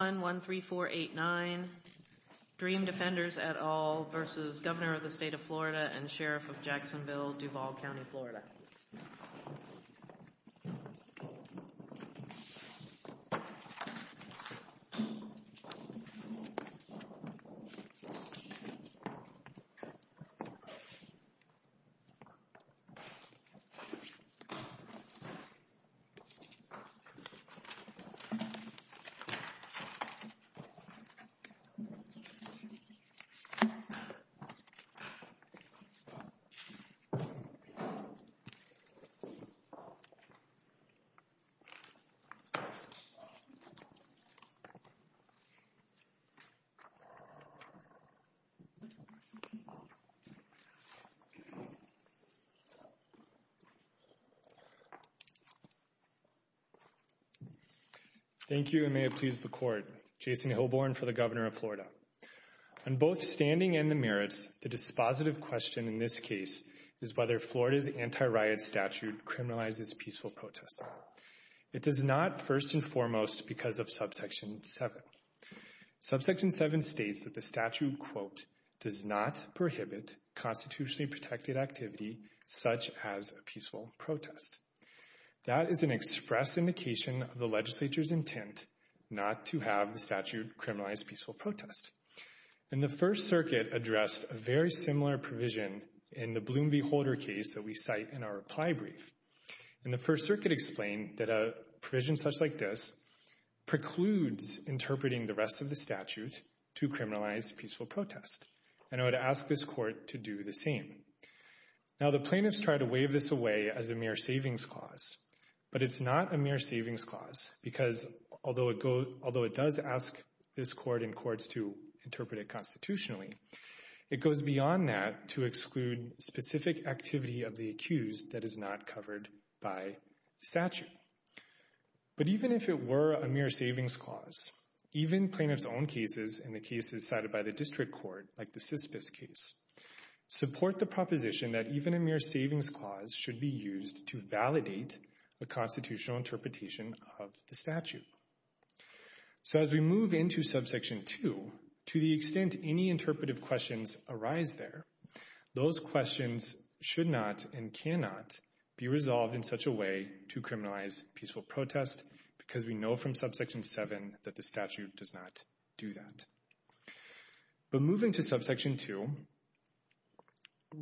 and Sheriff of Jacksonville, Duval County, Florida. Thank you, and may it please the Court. Jason Hilborn for the Governor of Florida. On both standing and the merits, the dispositive question in this case is whether Florida's anti-riot statute criminalizes peaceful protests. It does not, first and foremost, because of Subsection 7. Subsection 7 states that the statute, quote, does not prohibit constitutionally protected activity such as a peaceful protest. That is an express indication of the legislature's intent not to have the statute criminalize peaceful protest. And the First Circuit addressed a very similar provision in the Bloom v. Holder case that we cite in our reply brief. And the First Circuit explained that a provision such like this precludes interpreting the rest of the statute to criminalize peaceful protest. And I would ask this Court to do the same. Now, the plaintiffs try to wave this away as a mere savings clause, but it's not a mere savings clause, because although it does ask this Court and courts to interpret it constitutionally, it goes beyond that to exclude specific activity of the accused that is not covered by statute. But even if it were a mere savings clause, even plaintiffs' own cases and the cases cited by the district court, like the Sisbis case, support the proposition that even a mere savings clause should be used to validate the constitutional interpretation of the statute. So as we move into Subsection 2, to the extent any interpretive questions arise there, those questions should not and cannot be resolved in such a way to criminalize peaceful protest, because we know from Subsection 7 that the statute does not do that. But moving to Subsection 2,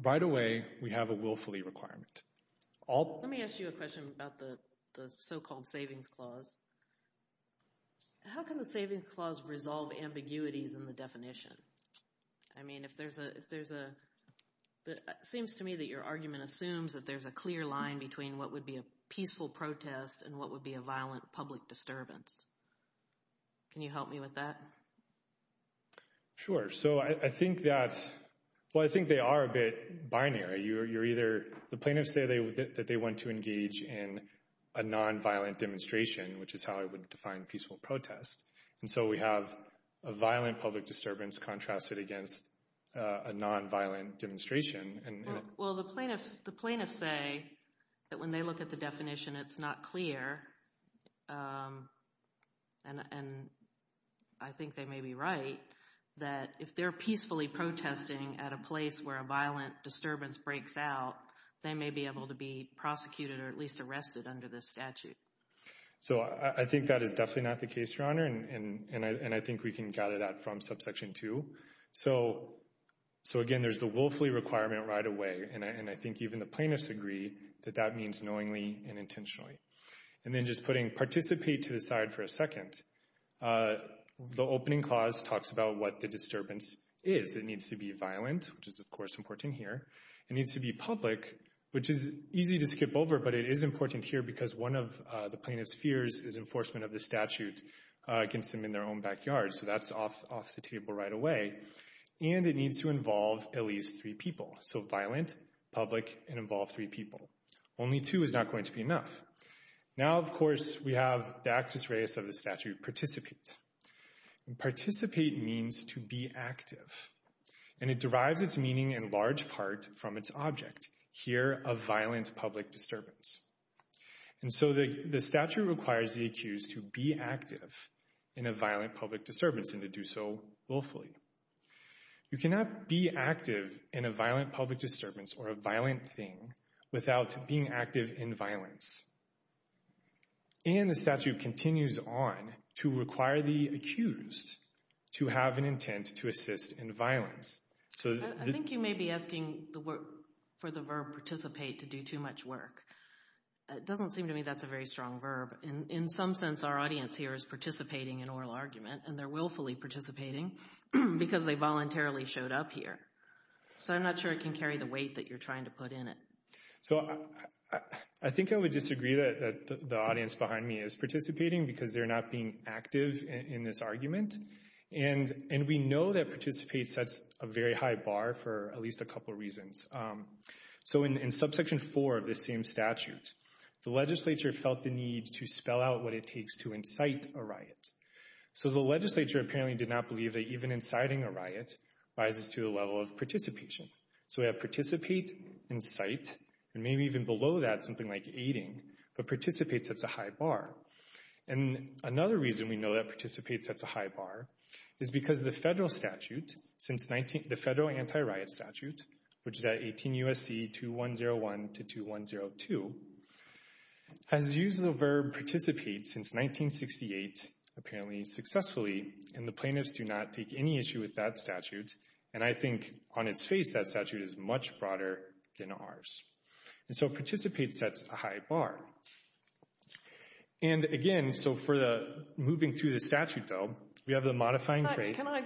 right away, we have a willfully requirement. Let me ask you a question about the so-called savings clause. How can the savings clause resolve ambiguities in the definition? I mean, if there's a... It seems to me that your argument assumes that there's a clear line between what would be a violent public disturbance. Can you help me with that? Sure. So I think that's... Well, I think they are a bit binary. You're either... The plaintiffs say that they want to engage in a nonviolent demonstration, which is how I would define peaceful protest. And so we have a violent public disturbance contrasted against a nonviolent demonstration. Well, the plaintiffs say that when they look at the definition, it's not clear, and I think they may be right, that if they're peacefully protesting at a place where a violent disturbance breaks out, they may be able to be prosecuted or at least arrested under this statute. So I think that is definitely not the case, Your Honor, and I think we can gather that from Subsection 2. So again, there's the willfully requirement right away, and I think even the plaintiffs agree that that means knowingly and intentionally. And then just putting participate to the side for a second. The opening clause talks about what the disturbance is. It needs to be violent, which is, of course, important here. It needs to be public, which is easy to skip over, but it is important here because one of the plaintiff's fears is enforcement of the statute against them in their own backyard. So that's off the table right away. And it needs to involve at least three people. So violent, public, and involve three people. Only two is not going to be enough. Now, of course, we have the actus reus of the statute participate. Participate means to be active, and it derives its meaning in large part from its object. Here, a violent public disturbance. And so the statute requires the accused to be active in a violent public disturbance and to do so willfully. You cannot be active in a violent public disturbance or a violent thing without being active in violence. And the statute continues on to require the accused to have an intent to assist in violence. I think you may be asking for the verb participate to do too much work. It doesn't seem to me that's a very strong verb. In some sense, our audience here is participating in oral argument, and they're willfully participating because they voluntarily showed up here. So I'm not sure it can carry the weight that you're trying to put in it. So I think I would disagree that the audience behind me is participating because they're not being active in this argument. And we know that participate sets a very high bar for at least a couple of reasons. So in subsection 4 of this same statute, the legislature felt the need to spell out what it takes to incite a riot. So the legislature apparently did not believe that even inciting a riot rises to the level of participation. So we have participate, incite, and maybe even below that something like aiding, but participate sets a high bar. And another reason we know that participate sets a high bar is because the federal statute, the federal anti-riot statute, which is at 18 U.S.C. 2101 to 2102, has used the verb participate since 1968 apparently successfully, and the plaintiffs do not take any issue with that statute. And I think on its face that statute is much broader than ours. And so participate sets a high bar. And again, so moving through the statute, though, we have the modifying trait. Can I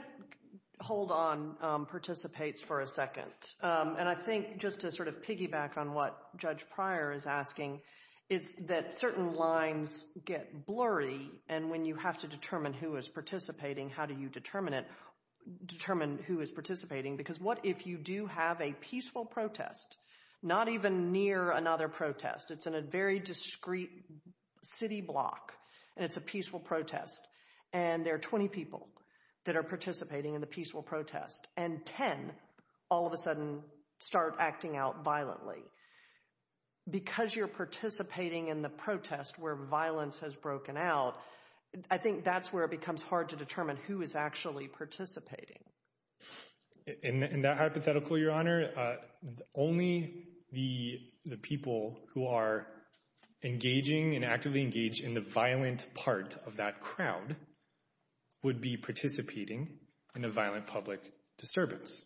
hold on participates for a second? And I think just to sort of piggyback on what Judge Pryor is asking is that certain lines get blurry, and when you have to determine who is participating, how do you determine who is participating? Because what if you do have a peaceful protest, not even near another protest? It's in a very discreet city block, and it's a peaceful protest, and there are 20 people that are participating in the peaceful protest, and 10 all of a sudden start acting out violently. Because you're participating in the protest where violence has broken out, I think that's where it becomes hard to determine who is actually participating. In that hypothetical, Your Honor, only the people who are engaging and actively engaged in the violent part of that crowd would be participating in a violent public disturbance.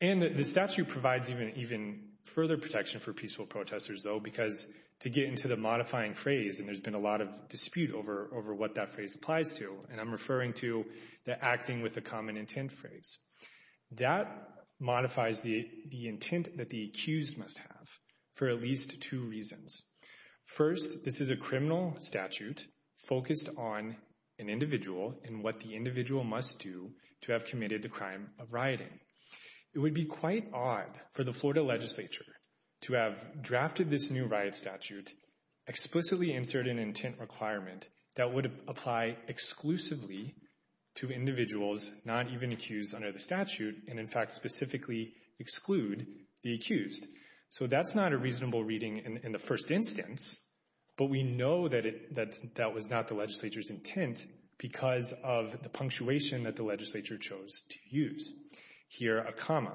And the statute provides even further protection for peaceful protesters, though, because to get into the modifying phrase, and there's been a lot of dispute over what that phrase applies to, and I'm referring to the acting with a common intent phrase, that modifies the intent that the accused must have for at least two reasons. First, this is a criminal statute focused on an individual and what the individual must do to have committed the crime of rioting. It would be quite odd for the Florida legislature to have drafted this new riot statute and explicitly insert an intent requirement that would apply exclusively to individuals not even accused under the statute, and in fact specifically exclude the accused. So that's not a reasonable reading in the first instance, but we know that that was not the legislature's intent because of the punctuation that the legislature chose to use. Here, a comma.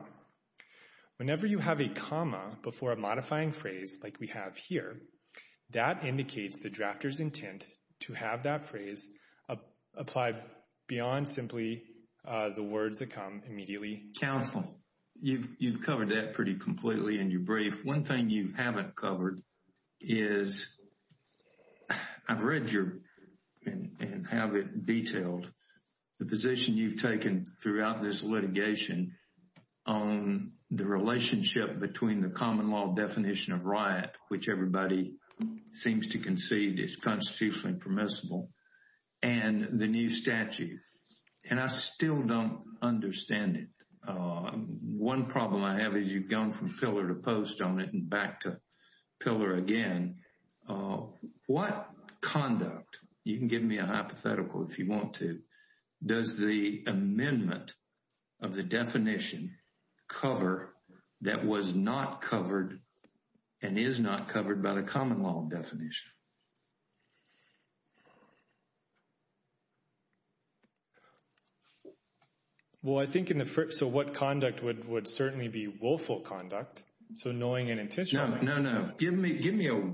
Whenever you have a comma before a modifying phrase, like we have here, that indicates the drafter's intent to have that phrase apply beyond simply the words that come immediately. Counsel, you've covered that pretty completely in your brief. One thing you haven't covered is, I've read your, and have it detailed, the position you've taken throughout this litigation on the relationship between the common law definition of riot, which everybody seems to concede is constitutionally permissible, and the new statute. And I still don't understand it. One problem I have is you've gone from pillar to post on it and back to pillar again. What conduct, you can give me a hypothetical if you want to, does the amendment of the definition cover that was not covered and is not covered by the common law definition? Well, I think in the first, so what conduct would certainly be willful conduct? So knowing an intention. No, no, no. Give me a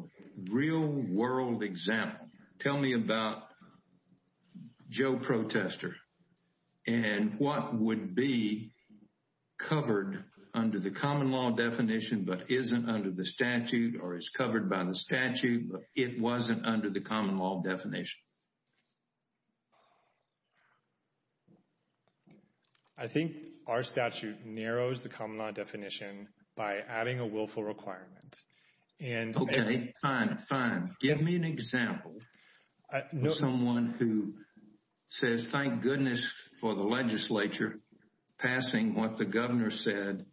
real world example. Tell me about Joe Protester and what would be covered under the common law definition but isn't under the statute or is covered by the statute, but it wasn't under the common law definition. I think our statute narrows the common law definition by adding a willful requirement. Okay, fine, fine. Give me an example. Someone who says, thank goodness for the legislature passing what the governor said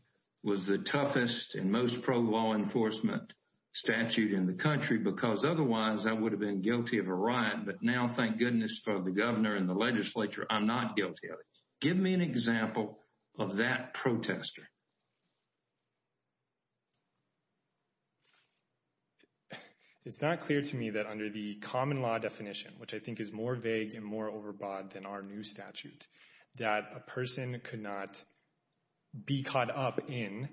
was the toughest and most pro-law enforcement statute in the country because otherwise I would have been guilty of a riot. But now, thank goodness for the governor and the legislature, I'm not guilty of it. Give me an example of that protester. It's not clear to me that under the common law definition, which I think is more vague and more overbought than our new statute, that a person could not be caught up in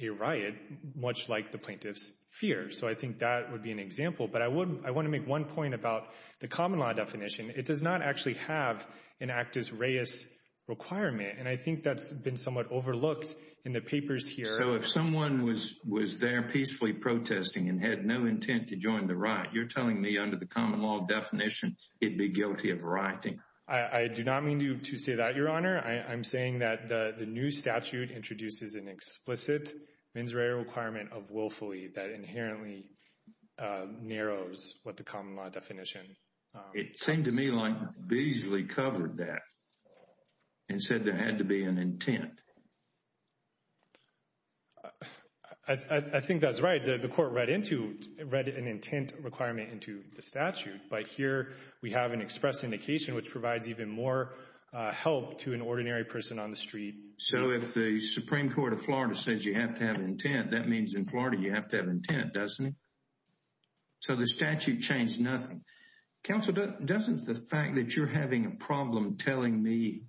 a riot, much like the plaintiffs fear. So I think that would be an example. But I want to make one point about the common law definition. It does not actually have an actus reus requirement, and I think that's been somewhat overlooked in the papers here. So if someone was there peacefully protesting and had no intent to join the riot, you're telling me under the common law definition he'd be guilty of rioting? I do not mean to say that, Your Honor. I'm saying that the new statute introduces an explicit mens rea requirement of willfully that inherently narrows what the common law definition says. It seemed to me like Beazley covered that and said there had to be an intent. I think that's right. The court read an intent requirement into the statute, but here we have an express indication which provides even more help to an ordinary person on the street. So if the Supreme Court of Florida says you have to have intent, that means in Florida you have to have intent, doesn't it? So the statute changed nothing. Counsel, doesn't the fact that you're having a problem telling me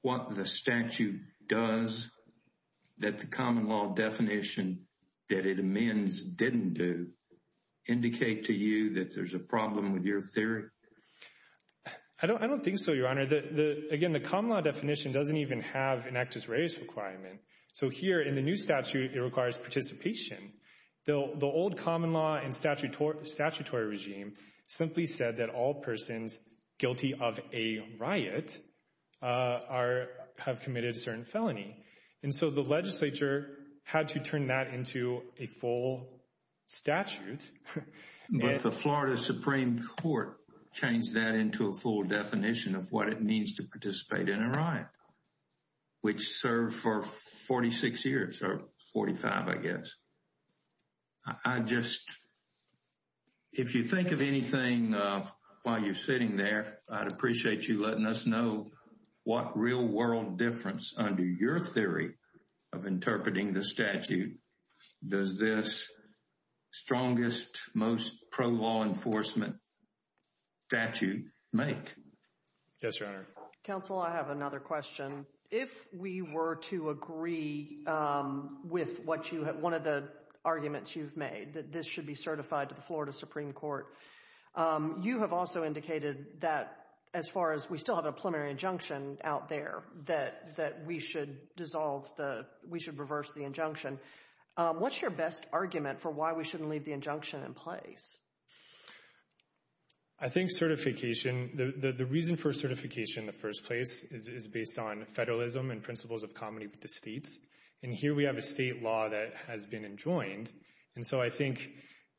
what the statute does that the common law definition that it amends didn't do indicate to you that there's a problem with your theory? I don't think so, Your Honor. Again, the common law definition doesn't even have an actus reus requirement. So here in the new statute, it requires participation. The old common law and statutory regime simply said that all persons guilty of a riot have committed a certain felony. And so the legislature had to turn that into a full statute. But the Florida Supreme Court changed that into a full definition of what it means to participate in a riot, which served for 46 years, or 45, I guess. If you think of anything while you're sitting there, I'd appreciate you letting us know what real-world difference under your theory of interpreting the statute does this strongest, most pro-law enforcement statute make. Yes, Your Honor. Counsel, I have another question. If we were to agree with one of the arguments you've made, that this should be certified to the Florida Supreme Court, you have also indicated that as far as we still have a preliminary injunction out there that we should reverse the injunction. What's your best argument for why we shouldn't leave the injunction in place? I think certification, the reason for certification in the first place, is based on federalism and principles of comity with the states. And here we have a state law that has been enjoined. And so I think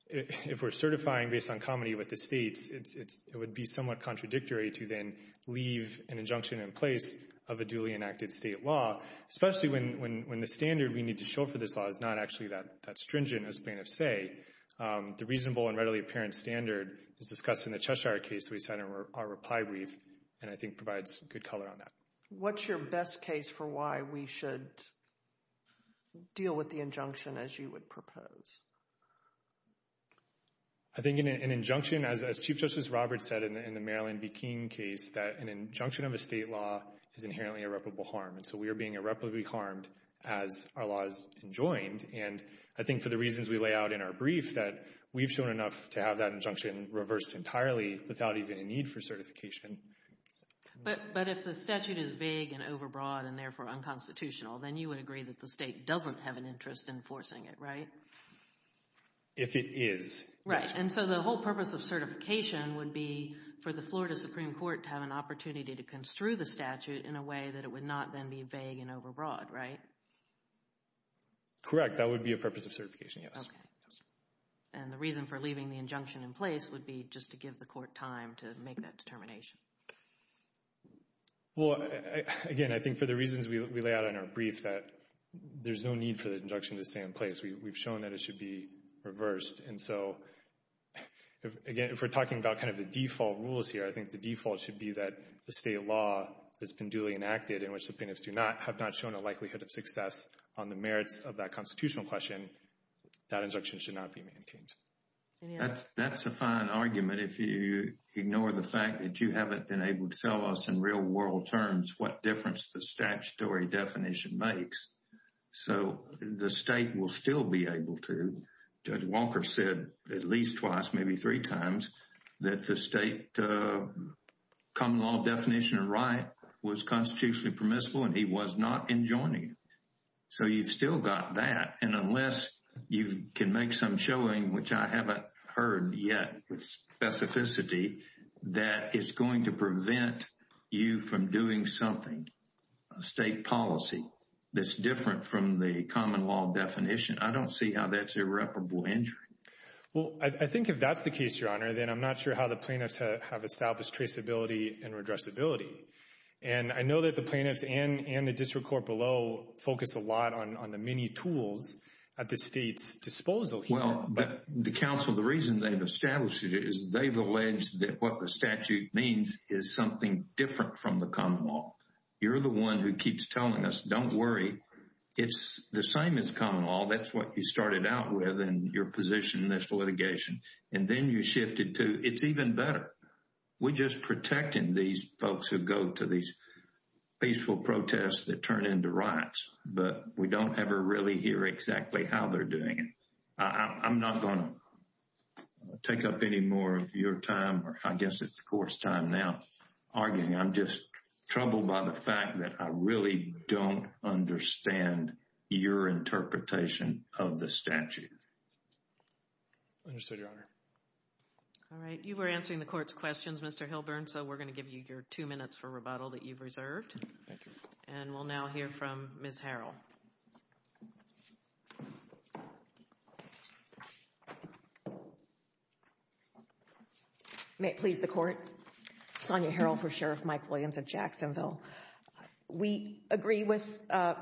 if we're certifying based on comity with the states, it would be somewhat contradictory to then leave an injunction in place of a duly enacted state law, especially when the standard we need to show for this law is not actually that stringent, as plaintiffs say. The reasonable and readily apparent standard is discussed in the Cheshire case we cited in our reply brief and I think provides good color on that. What's your best case for why we should deal with the injunction as you would propose? I think an injunction, as Chief Justice Roberts said in the Marilyn B. King case, that an injunction of a state law is inherently irreparable harm. And so we are being irreparably harmed as our law is enjoined. And I think for the reasons we lay out in our brief, that we've shown enough to have that injunction reversed entirely without even a need for certification. But if the statute is vague and overbroad and therefore unconstitutional, then you would agree that the state doesn't have an interest in enforcing it, right? If it is, yes. Right, and so the whole purpose of certification would be for the Florida Supreme Court to have an opportunity to construe the statute in a way that it would not then be vague and overbroad, right? Correct, that would be a purpose of certification, yes. And the reason for leaving the injunction in place would be just to give the court time to make that determination. Well, again, I think for the reasons we lay out in our brief, that there's no need for the injunction to stay in place. We've shown that it should be reversed. And so, again, if we're talking about kind of the default rules here, I think the default should be that the state law has been duly enacted in which the plaintiffs have not shown a likelihood of success on the merits of that constitutional question, that injunction should not be maintained. That's a fine argument if you ignore the fact that you haven't been able to tell us in real-world terms what difference the statutory definition makes. So the state will still be able to. Judge Walker said at least twice, maybe three times, that the state common law definition of right was constitutionally permissible and he was not enjoining it. So you've still got that. And unless you can make some showing, which I haven't heard yet, specificity that is going to prevent you from doing something, a state policy that's different from the common law definition, I don't see how that's irreparable injury. Well, I think if that's the case, Your Honor, then I'm not sure how the plaintiffs have established traceability and redressability. And I know that the plaintiffs and the district court below focus a lot on the many tools at the state's disposal here. Well, the counsel, the reason they've established it is they've alleged that what the statute means is something different from the common law. You're the one who keeps telling us, don't worry, it's the same as common law. That's what you started out with in your position in this litigation. And then you shifted to, it's even better. We're just protecting these folks who go to these peaceful protests that turn into riots, but we don't ever really hear exactly how they're doing it. I'm not going to take up any more of your time, or I guess it's the court's time now, arguing. I'm just troubled by the fact that I really don't understand your interpretation of the statute. Understood, Your Honor. All right, you were answering the court's questions, Mr. Hilburn, so we're going to give you your two minutes for rebuttal that you've reserved. Thank you. And we'll now hear from Ms. Harrell. May it please the Court. Sonya Harrell for Sheriff Mike Williams of Jacksonville. We agree with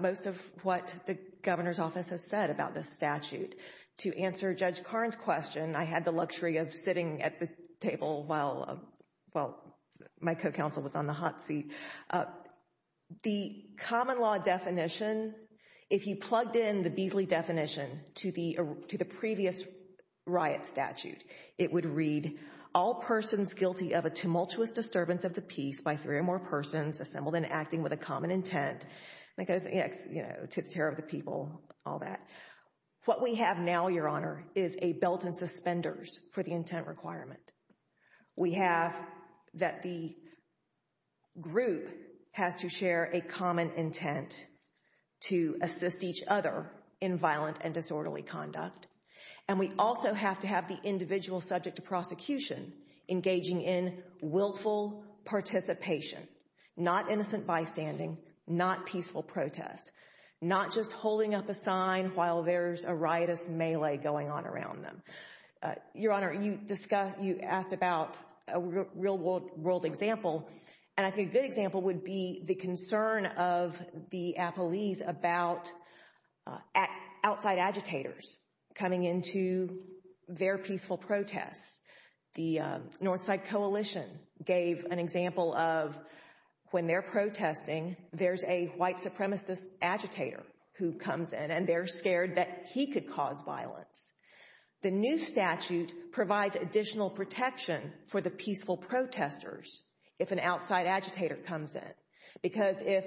most of what the governor's office has said about this statute. To answer Judge Karn's question, I had the luxury of sitting at the table while my co-counsel was on the hot seat The common law definition, if you plugged in the Beasley definition to the previous riot statute, it would read, all persons guilty of a tumultuous disturbance of the peace by three or more persons assembled in acting with a common intent, to the terror of the people, all that. What we have now, Your Honor, is a belt and suspenders for the intent requirement. We have that the group has to share a common intent to assist each other in violent and disorderly conduct. And we also have to have the individual subject to prosecution engaging in willful participation, not innocent bystanding, not peaceful protest, not just holding up a sign while there's a riotous melee going on around them. Your Honor, you asked about a real-world example, and I think a good example would be the concern of the Appalese about outside agitators coming into their peaceful protests. The North Side Coalition gave an example of when they're protesting, there's a white supremacist agitator who comes in and they're scared that he could cause violence. The new statute provides additional protection for the peaceful protesters if an outside agitator comes in, because if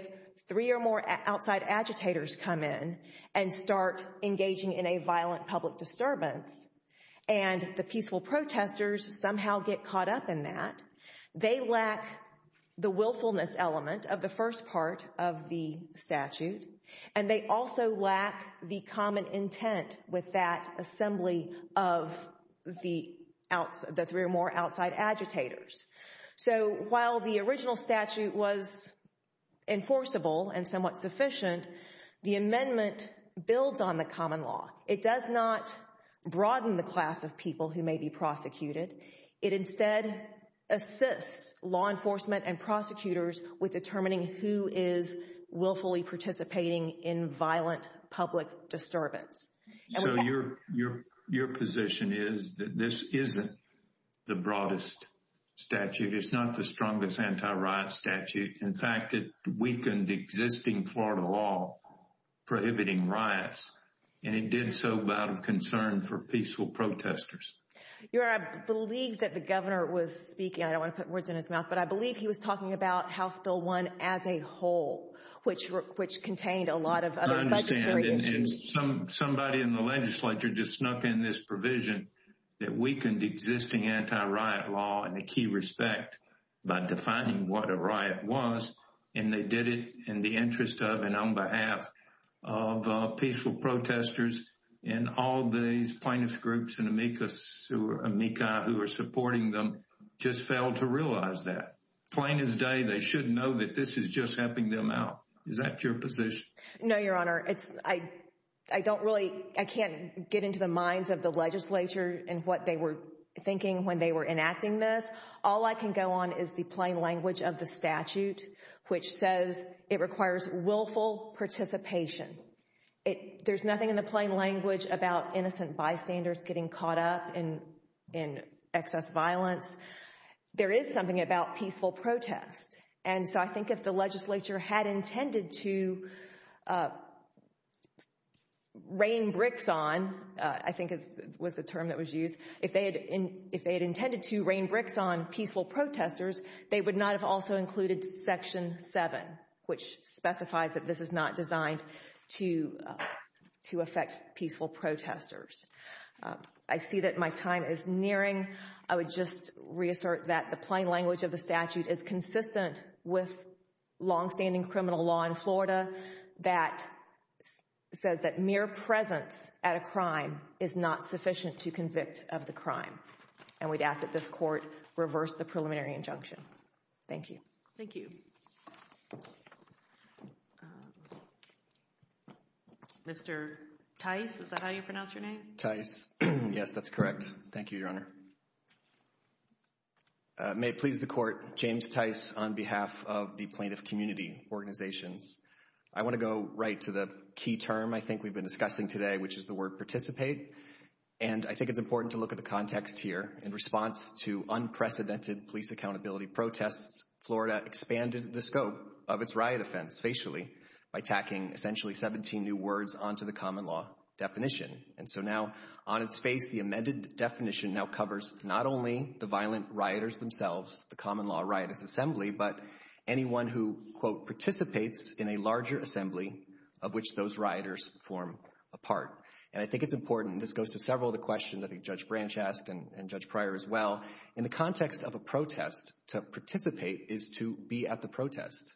three or more outside agitators come in and start engaging in a violent public disturbance and the peaceful protesters somehow get caught up in that, they lack the willfulness element of the first part of the statute, and they also lack the common intent with that assembly of the three or more outside agitators. So while the original statute was enforceable and somewhat sufficient, the amendment builds on the common law. It does not broaden the class of people who may be prosecuted. It instead assists law enforcement and prosecutors with determining who is willfully participating in violent public disturbance. So your position is that this isn't the broadest statute, it's not the strongest anti-riot statute. In fact, it weakened the existing Florida law prohibiting riots, and it did so out of concern for peaceful protesters. Your Honor, I believe that the governor was speaking, I don't want to put words in his mouth, but I believe he was talking about House Bill 1 as a whole, which contained a lot of other budgetary issues. I understand, and somebody in the legislature just snuck in this provision that weakened existing anti-riot law in a key respect by defining what a riot was, and they did it in the interest of and on behalf of peaceful protesters, and all these plaintiff's groups and amicus or amicus who are supporting them just failed to realize that. Plain as day, they should know that this is just helping them out. Is that your position? No, Your Honor. I don't really, I can't get into the minds of the legislature and what they were thinking when they were enacting this. All I can go on is the plain language of the statute, which says it requires willful participation. There's nothing in the plain language about innocent bystanders getting caught up in excess violence. There is something about peaceful protest, and so I think if the legislature had intended to rain bricks on, I think was the term that was used, if they had intended to rain bricks on peaceful protesters, they would not have also included Section 7, which specifies that this is not designed to affect peaceful protesters. I see that my time is nearing. I would just reassert that the plain language of the statute is consistent with longstanding criminal law in Florida that says that mere presence at a crime is not sufficient to convict of the crime, and we'd ask that this court reverse the preliminary injunction. Thank you. Thank you. Mr. Tice, is that how you pronounce your name? Tice. Yes, that's correct. Thank you, Your Honor. May it please the court, James Tice on behalf of the Plaintiff Community Organizations. I want to go right to the key term I think we've been discussing today, which is the word participate, and I think it's important to look at the context here. In response to unprecedented police accountability protests, Florida expanded the scope of its riot offense facially by tacking essentially 17 new words onto the common law definition. And so now on its face, the amended definition now covers not only the violent rioters themselves, the common law rioters assembly, but anyone who, quote, participates in a larger assembly of which those rioters form a part. And I think it's important, and this goes to several of the questions I think Judge Branch asked and Judge Pryor as well, in the context of a protest, to participate is to be at the protest.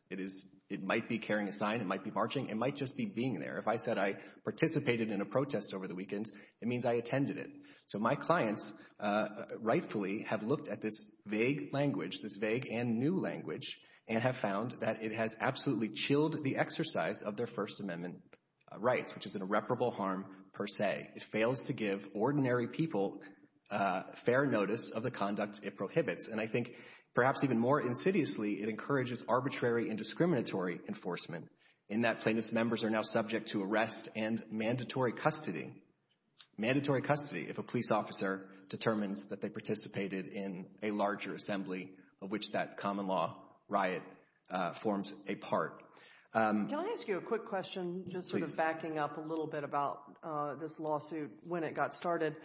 It might be carrying a sign. It might be marching. It might just be being there. If I said I participated in a protest over the weekend, it means I attended it. So my clients rightfully have looked at this vague language, this vague and new language, and have found that it has absolutely chilled the exercise of their First Amendment rights, which is an irreparable harm per se. It fails to give ordinary people fair notice of the conduct it prohibits. And I think perhaps even more insidiously, it encourages arbitrary and discriminatory enforcement in that plaintiff's members are now subject to arrest and mandatory custody. Mandatory custody if a police officer determines that they participated in a larger assembly of which that common law riot forms a part. Can I ask you a quick question, just sort of backing up a little bit about this lawsuit, when it got started.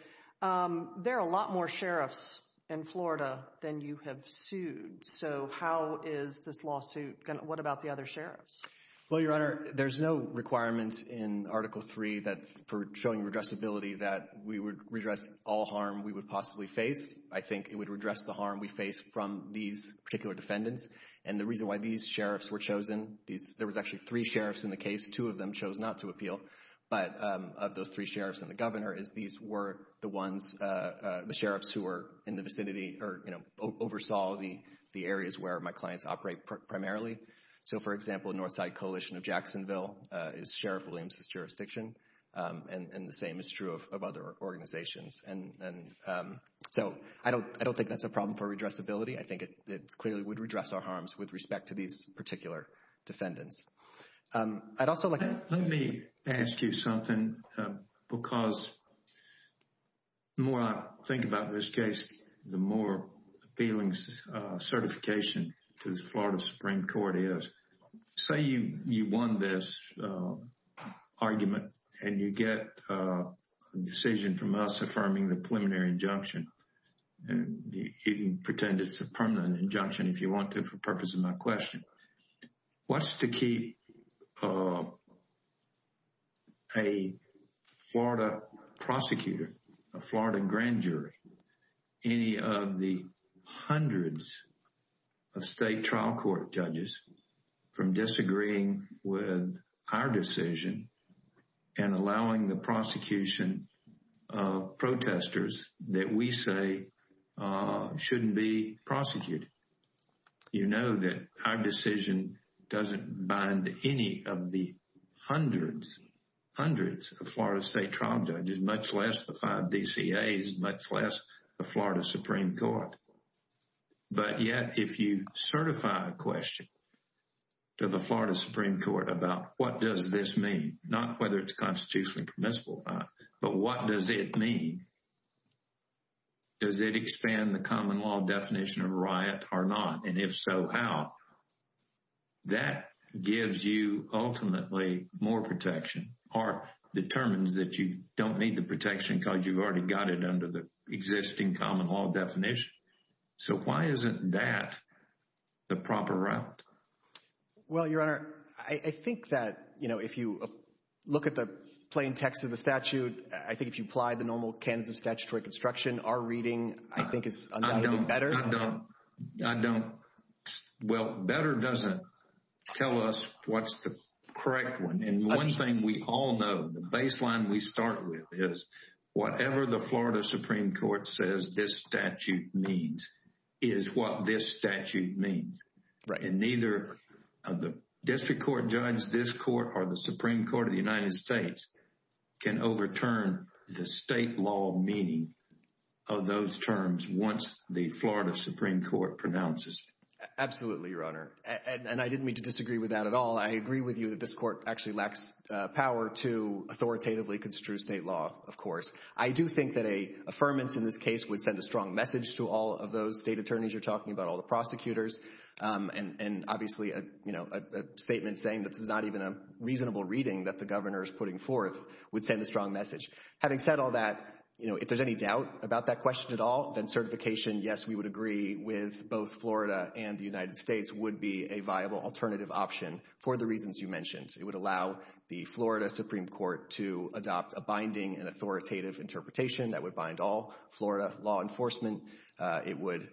There are a lot more sheriffs in Florida than you have sued. So how is this lawsuit going to go? What about the other sheriffs? Well, Your Honor, there's no requirement in Article 3 for showing redressability that we would redress all harm we would possibly face. I think it would redress the harm we face from these particular defendants. And the reason why these sheriffs were chosen, there was actually three sheriffs in the case, two of them chose not to appeal, but of those three sheriffs and the governor is these were the ones, the sheriffs who were in the vicinity or, you know, oversaw the areas where my clients operate primarily. So, for example, Northside Coalition of Jacksonville is Sheriff Williams's jurisdiction. And the same is true of other organizations. And so I don't think that's a problem for redressability. I think it's clearly would redress our harms with respect to these particular defendants. I'd also like to... Let me ask you something because the more I think about this case, the more appealing certification to the Florida Supreme Court is. Say you won this argument and you get a decision from us affirming the permanent injunction, if you want to, for purpose of my question, what's to keep a Florida prosecutor, a Florida grand jury, any of the hundreds of state trial court judges from disagreeing with our decision and allowing the prosecution of protesters that we say shouldn't be prosecuted. You know that our decision doesn't bind any of the hundreds, hundreds of Florida state trial judges, much less the five DCAs, much less the Florida Supreme Court. But yet if you certify a question to the Florida Supreme Court about what does this mean, not whether it's constitutionally permissible or not, but what does it mean? Does it expand the common law definition of riot or not? And if so, how? That gives you ultimately more protection or determines that you don't need the protection because you've already got it under the existing common law definition. So why isn't that the proper route? Well, Your Honor, I think that, you know, if you look at the plain text of the statute, I think if you apply the normal Kansas statutory construction, our reading I think is undoubtedly better. I don't. I don't. Well, better doesn't tell us what's the correct one. And one thing we all know, the baseline we start with is whatever the Florida Supreme Court says this statute means is what this statute means. Right. And neither of the district court judge, this court or the Supreme Court of the United States can overturn the state law meaning of those terms. Once the Florida Supreme Court pronounces. Absolutely, Your Honor. And I didn't mean to disagree with that at all. I agree with you that this court actually lacks power to authoritatively construe state law. Of course, I do think that a affirmance in this case would send a strong message to all of those state attorneys. You're talking about all the prosecutors and, and obviously, you know, a statement saying that this is not even a reasonable reading that the governor's putting forth would send a strong message. Having said all that, you know, if there's any doubt about that question at all, then certification, yes, we would agree with both Florida and the United States would be a viable alternative option for the reasons you mentioned. It would allow the Florida Supreme Court to adopt a binding and authoritative interpretation that would bind all Florida law enforcement. It would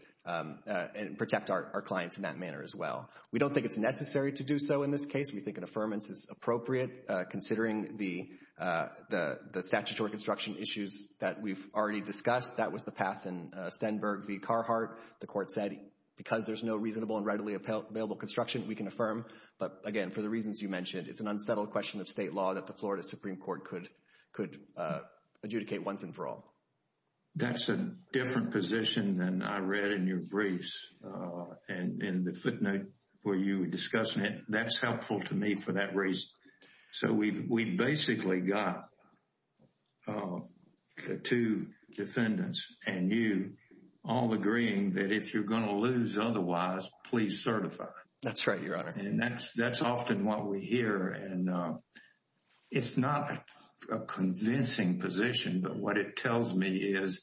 protect our clients in that manner as well. We don't think it's necessary to do so in this case. We think an affirmance is appropriate considering the, the statutory construction issues that we've already discussed. That was the path in Stenberg v. Carhartt. The court said because there's no reasonable and readily available construction, we can affirm. But again, for the reasons you mentioned, it's an unsettled question of state law that the Florida Supreme Court could, could adjudicate once and for all. That's a different position than I read in your briefs. And in the footnote where you were discussing it, that's helpful to me for that reason. So we've basically got two defendants and you all agreeing that if you're going to lose otherwise, please certify. That's right, Your Honor. And that's, that's often what we hear. And it's not a convincing position, but what it tells me is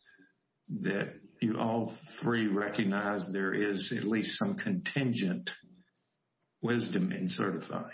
that you all three recognize there is at least some contingent wisdom in certifying.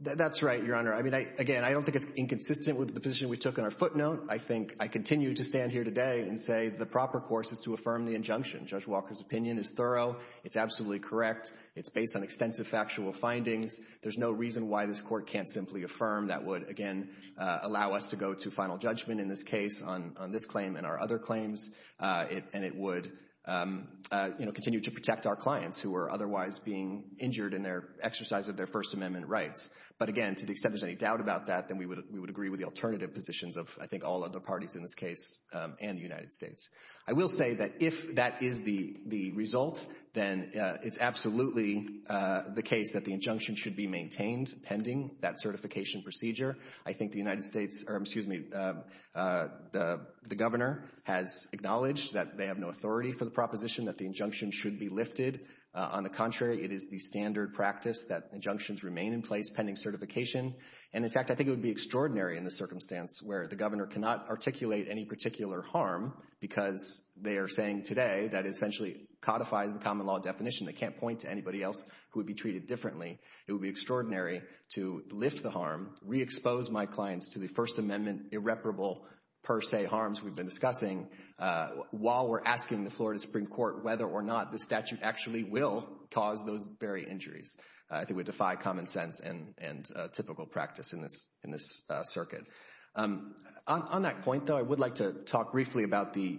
That's right, Your Honor. I mean, I, again, I don't think it's inconsistent with the position we took in our footnote. I think I continue to stand here today and say the proper course is to affirm the injunction. Judge Walker's opinion is thorough. It's absolutely correct. It's based on extensive factual findings. There's no reason why this court can't simply affirm. That would, again, allow us to go to final judgment in this case on this claim and our other claims. And it would, you know, continue to protect our clients who are otherwise being injured in their exercise of their First Amendment rights. But, again, to the extent there's any doubt about that, then we would agree with the alternative positions of, I think, all other parties in this case and the United States. I will say that if that is the result, then it's absolutely the case that the injunction should be maintained pending that certification procedure. I think the United States, or excuse me, the governor has acknowledged that they have no authority for the proposition that the injunction should be lifted. On the contrary, it is the standard practice that injunctions remain in place pending certification. And, in fact, I think it would be extraordinary in the circumstance where the governor cannot articulate any particular harm because they are saying today that essentially codifies the common law definition. They can't point to anybody else who would be treated differently. It would be extraordinary to lift the harm, re-expose my clients to the First Amendment irreparable per se harms we've been discussing while we're asking the Florida Supreme Court whether or not the statute actually will cause those very injuries. I think we defy common sense and typical practice in this circuit. On that point, though, I would like to talk briefly about the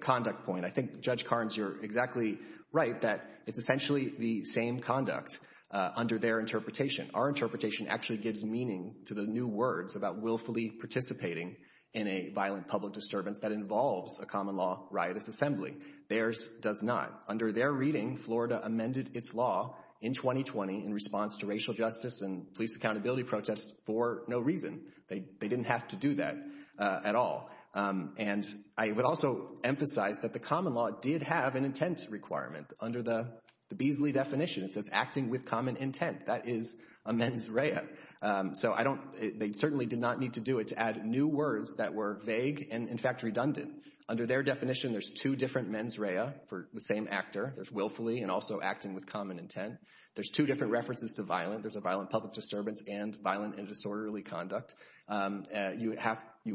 conduct point. I think, Judge Carnes, you're exactly right that it's essentially the same conduct under their interpretation. Our interpretation actually gives meaning to the new words about willfully participating in a violent public disturbance that involves a common law riotous assembly. Theirs does not. Under their reading, Florida amended its law in 2020 in response to racial justice and police accountability protests for no reason. They didn't have to do that at all. I would also emphasize that the common law did have an intent requirement under the Beasley definition. It says acting with common intent. That is a mens rea. They certainly did not need to do it to add new words that were vague and, in fact, redundant. Under their definition, there's two different mens rea for the same actor. There's willfully and also acting with common intent. There's two different references to violent. There's a violent public disturbance and violent and disorderly conduct. You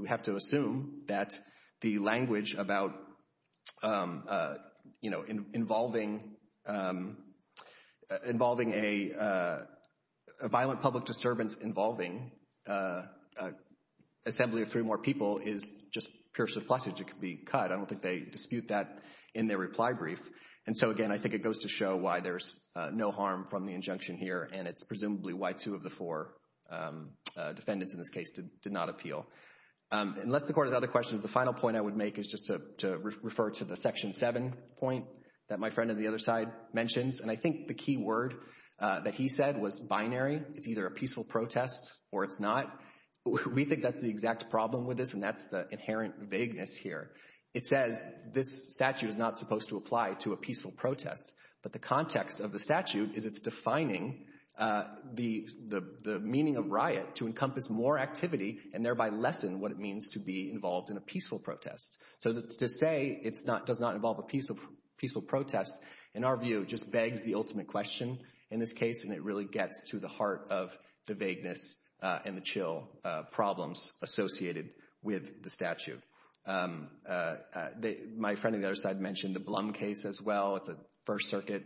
have to assume that the language about, you know, involving a violent public disturbance involving an assembly of three more people is just pure surplusage. It could be cut. I don't think they dispute that in their reply brief. And so, again, I think it goes to show why there's no harm from the injunction here, and it's presumably why two of the four defendants in this case did not appeal. Unless the Court has other questions, the final point I would make is just to refer to the Section 7 point that my friend on the other side mentions. And I think the key word that he said was binary. It's either a peaceful protest or it's not. We think that's the exact problem with this, and that's the inherent vagueness here. It says this statute is not supposed to apply to a peaceful protest, but the context of the statute is it's defining the meaning of riot to encompass more activity and thereby lessen what it means to be involved in a peaceful protest. So to say it does not involve a peaceful protest, in our view, just begs the ultimate question in this case, and it really gets to the heart of the vagueness and the chill problems associated with the statute. My friend on the other side mentioned the Blum case as well. It's a First Circuit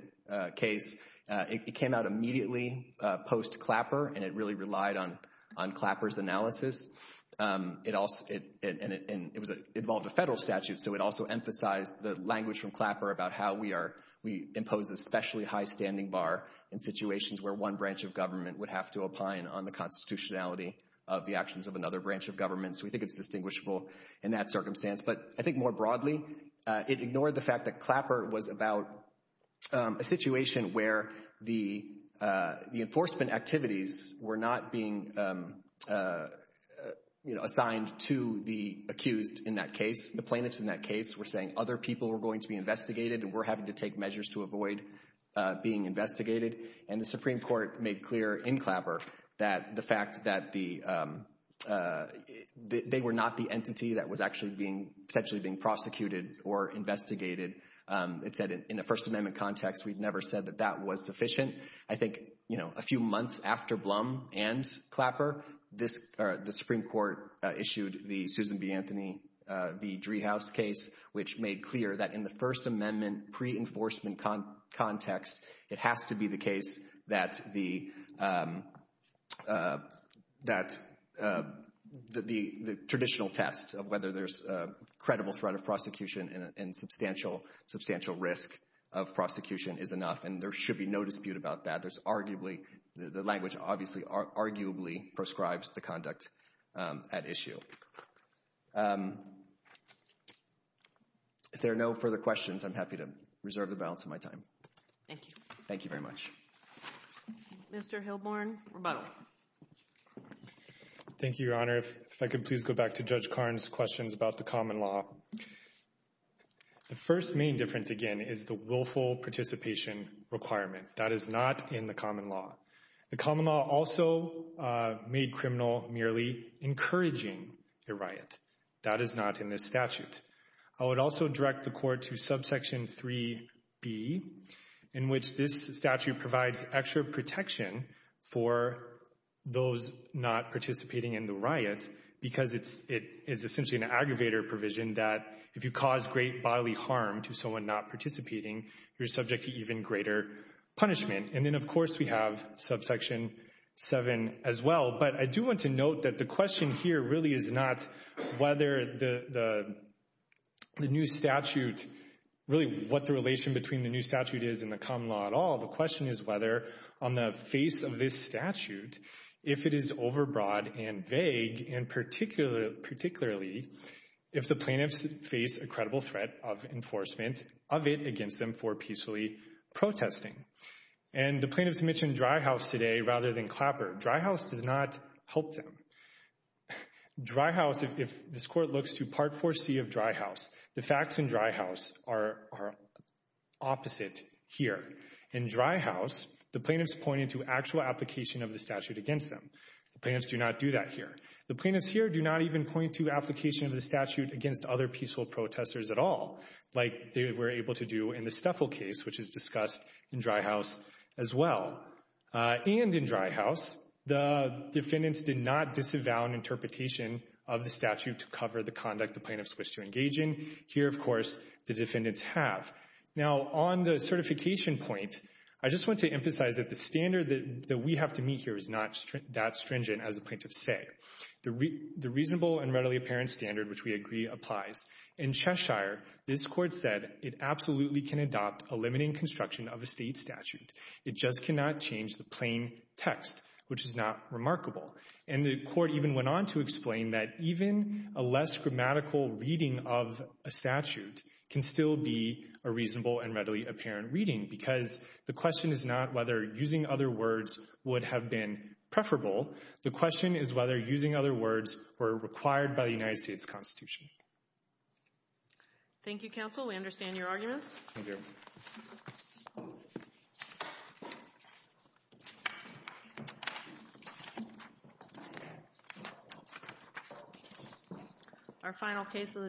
case. It came out immediately post-Clapper, and it really relied on Clapper's analysis. And it involved a federal statute, so it also emphasized the language from Clapper about how we impose a specially high standing bar in situations where one branch of government would have to opine on the constitutionality of the actions of another branch of government. So we think it's distinguishable in that circumstance. But I think more broadly, it ignored the fact that Clapper was about a situation where the enforcement activities were not being assigned to the accused in that case. The plaintiffs in that case were saying other people were going to be investigated and were having to take measures to avoid being investigated. And the Supreme Court made clear in Clapper that the fact that they were not the entity that was actually potentially being prosecuted or investigated, it said in a First Amendment context, we've never said that that was sufficient. I think a few months after Blum and Clapper, the Supreme Court issued the Susan B. Anthony v. Driehaus case, which made clear that in the First Amendment pre-enforcement context, it has to be the case that the traditional test of whether there's credible threat of prosecution and substantial risk of prosecution is enough. And there should be no dispute about that. The language obviously arguably prescribes the conduct at issue. If there are no further questions, I'm happy to reserve the balance of my time. Thank you. Thank you very much. Mr. Hilborne, rebuttal. Thank you, Your Honor. If I could please go back to Judge Karn's questions about the common law. The first main difference, again, is the willful participation requirement. That is not in the common law. The common law also made criminal merely encouraging a riot. That is not in this statute. I would also direct the Court to subsection 3B, in which this statute provides extra protection for those not participating in the riot because it is essentially an aggravator provision that if you cause great bodily harm to someone not participating, you're subject to even greater punishment. And then, of course, we have subsection 7 as well. But I do want to note that the question here really is not whether the new statute, really what the relation between the new statute is and the common law at all. The question is whether on the face of this statute, if it is overbroad and vague and particularly if the plaintiffs face a credible threat of enforcement of it against them for peacefully protesting. And the plaintiffs mentioned Dry House today rather than Clapper. Dry House does not help them. Dry House, if this Court looks to Part 4C of Dry House, the facts in Dry House are opposite here. In Dry House, the plaintiffs point to actual application of the statute against them. The plaintiffs do not do that here. The plaintiffs here do not even point to application of the statute against other peaceful protesters at all, like they were able to do in the Steffel case, which is discussed in Dry House as well. And in Dry House, the defendants did not disavow an interpretation of the statute to cover the conduct the plaintiffs wish to engage in. Here, of course, the defendants have. Now, on the certification point, I just want to emphasize that the standard that we have to meet here is not that stringent, as the plaintiffs say. The reasonable and readily apparent standard, which we agree applies. In Cheshire, this Court said it absolutely can adopt a limiting construction of a State statute. It just cannot change the plain text, which is not remarkable. And the Court even went on to explain that even a less grammatical reading of a statute can still be a reasonable and readily apparent reading because the question is not whether using other words would have been preferable. The question is whether using other words were required by the United States Constitution. Thank you, Counsel. We understand your arguments. Thank you. Thank you. Thank you.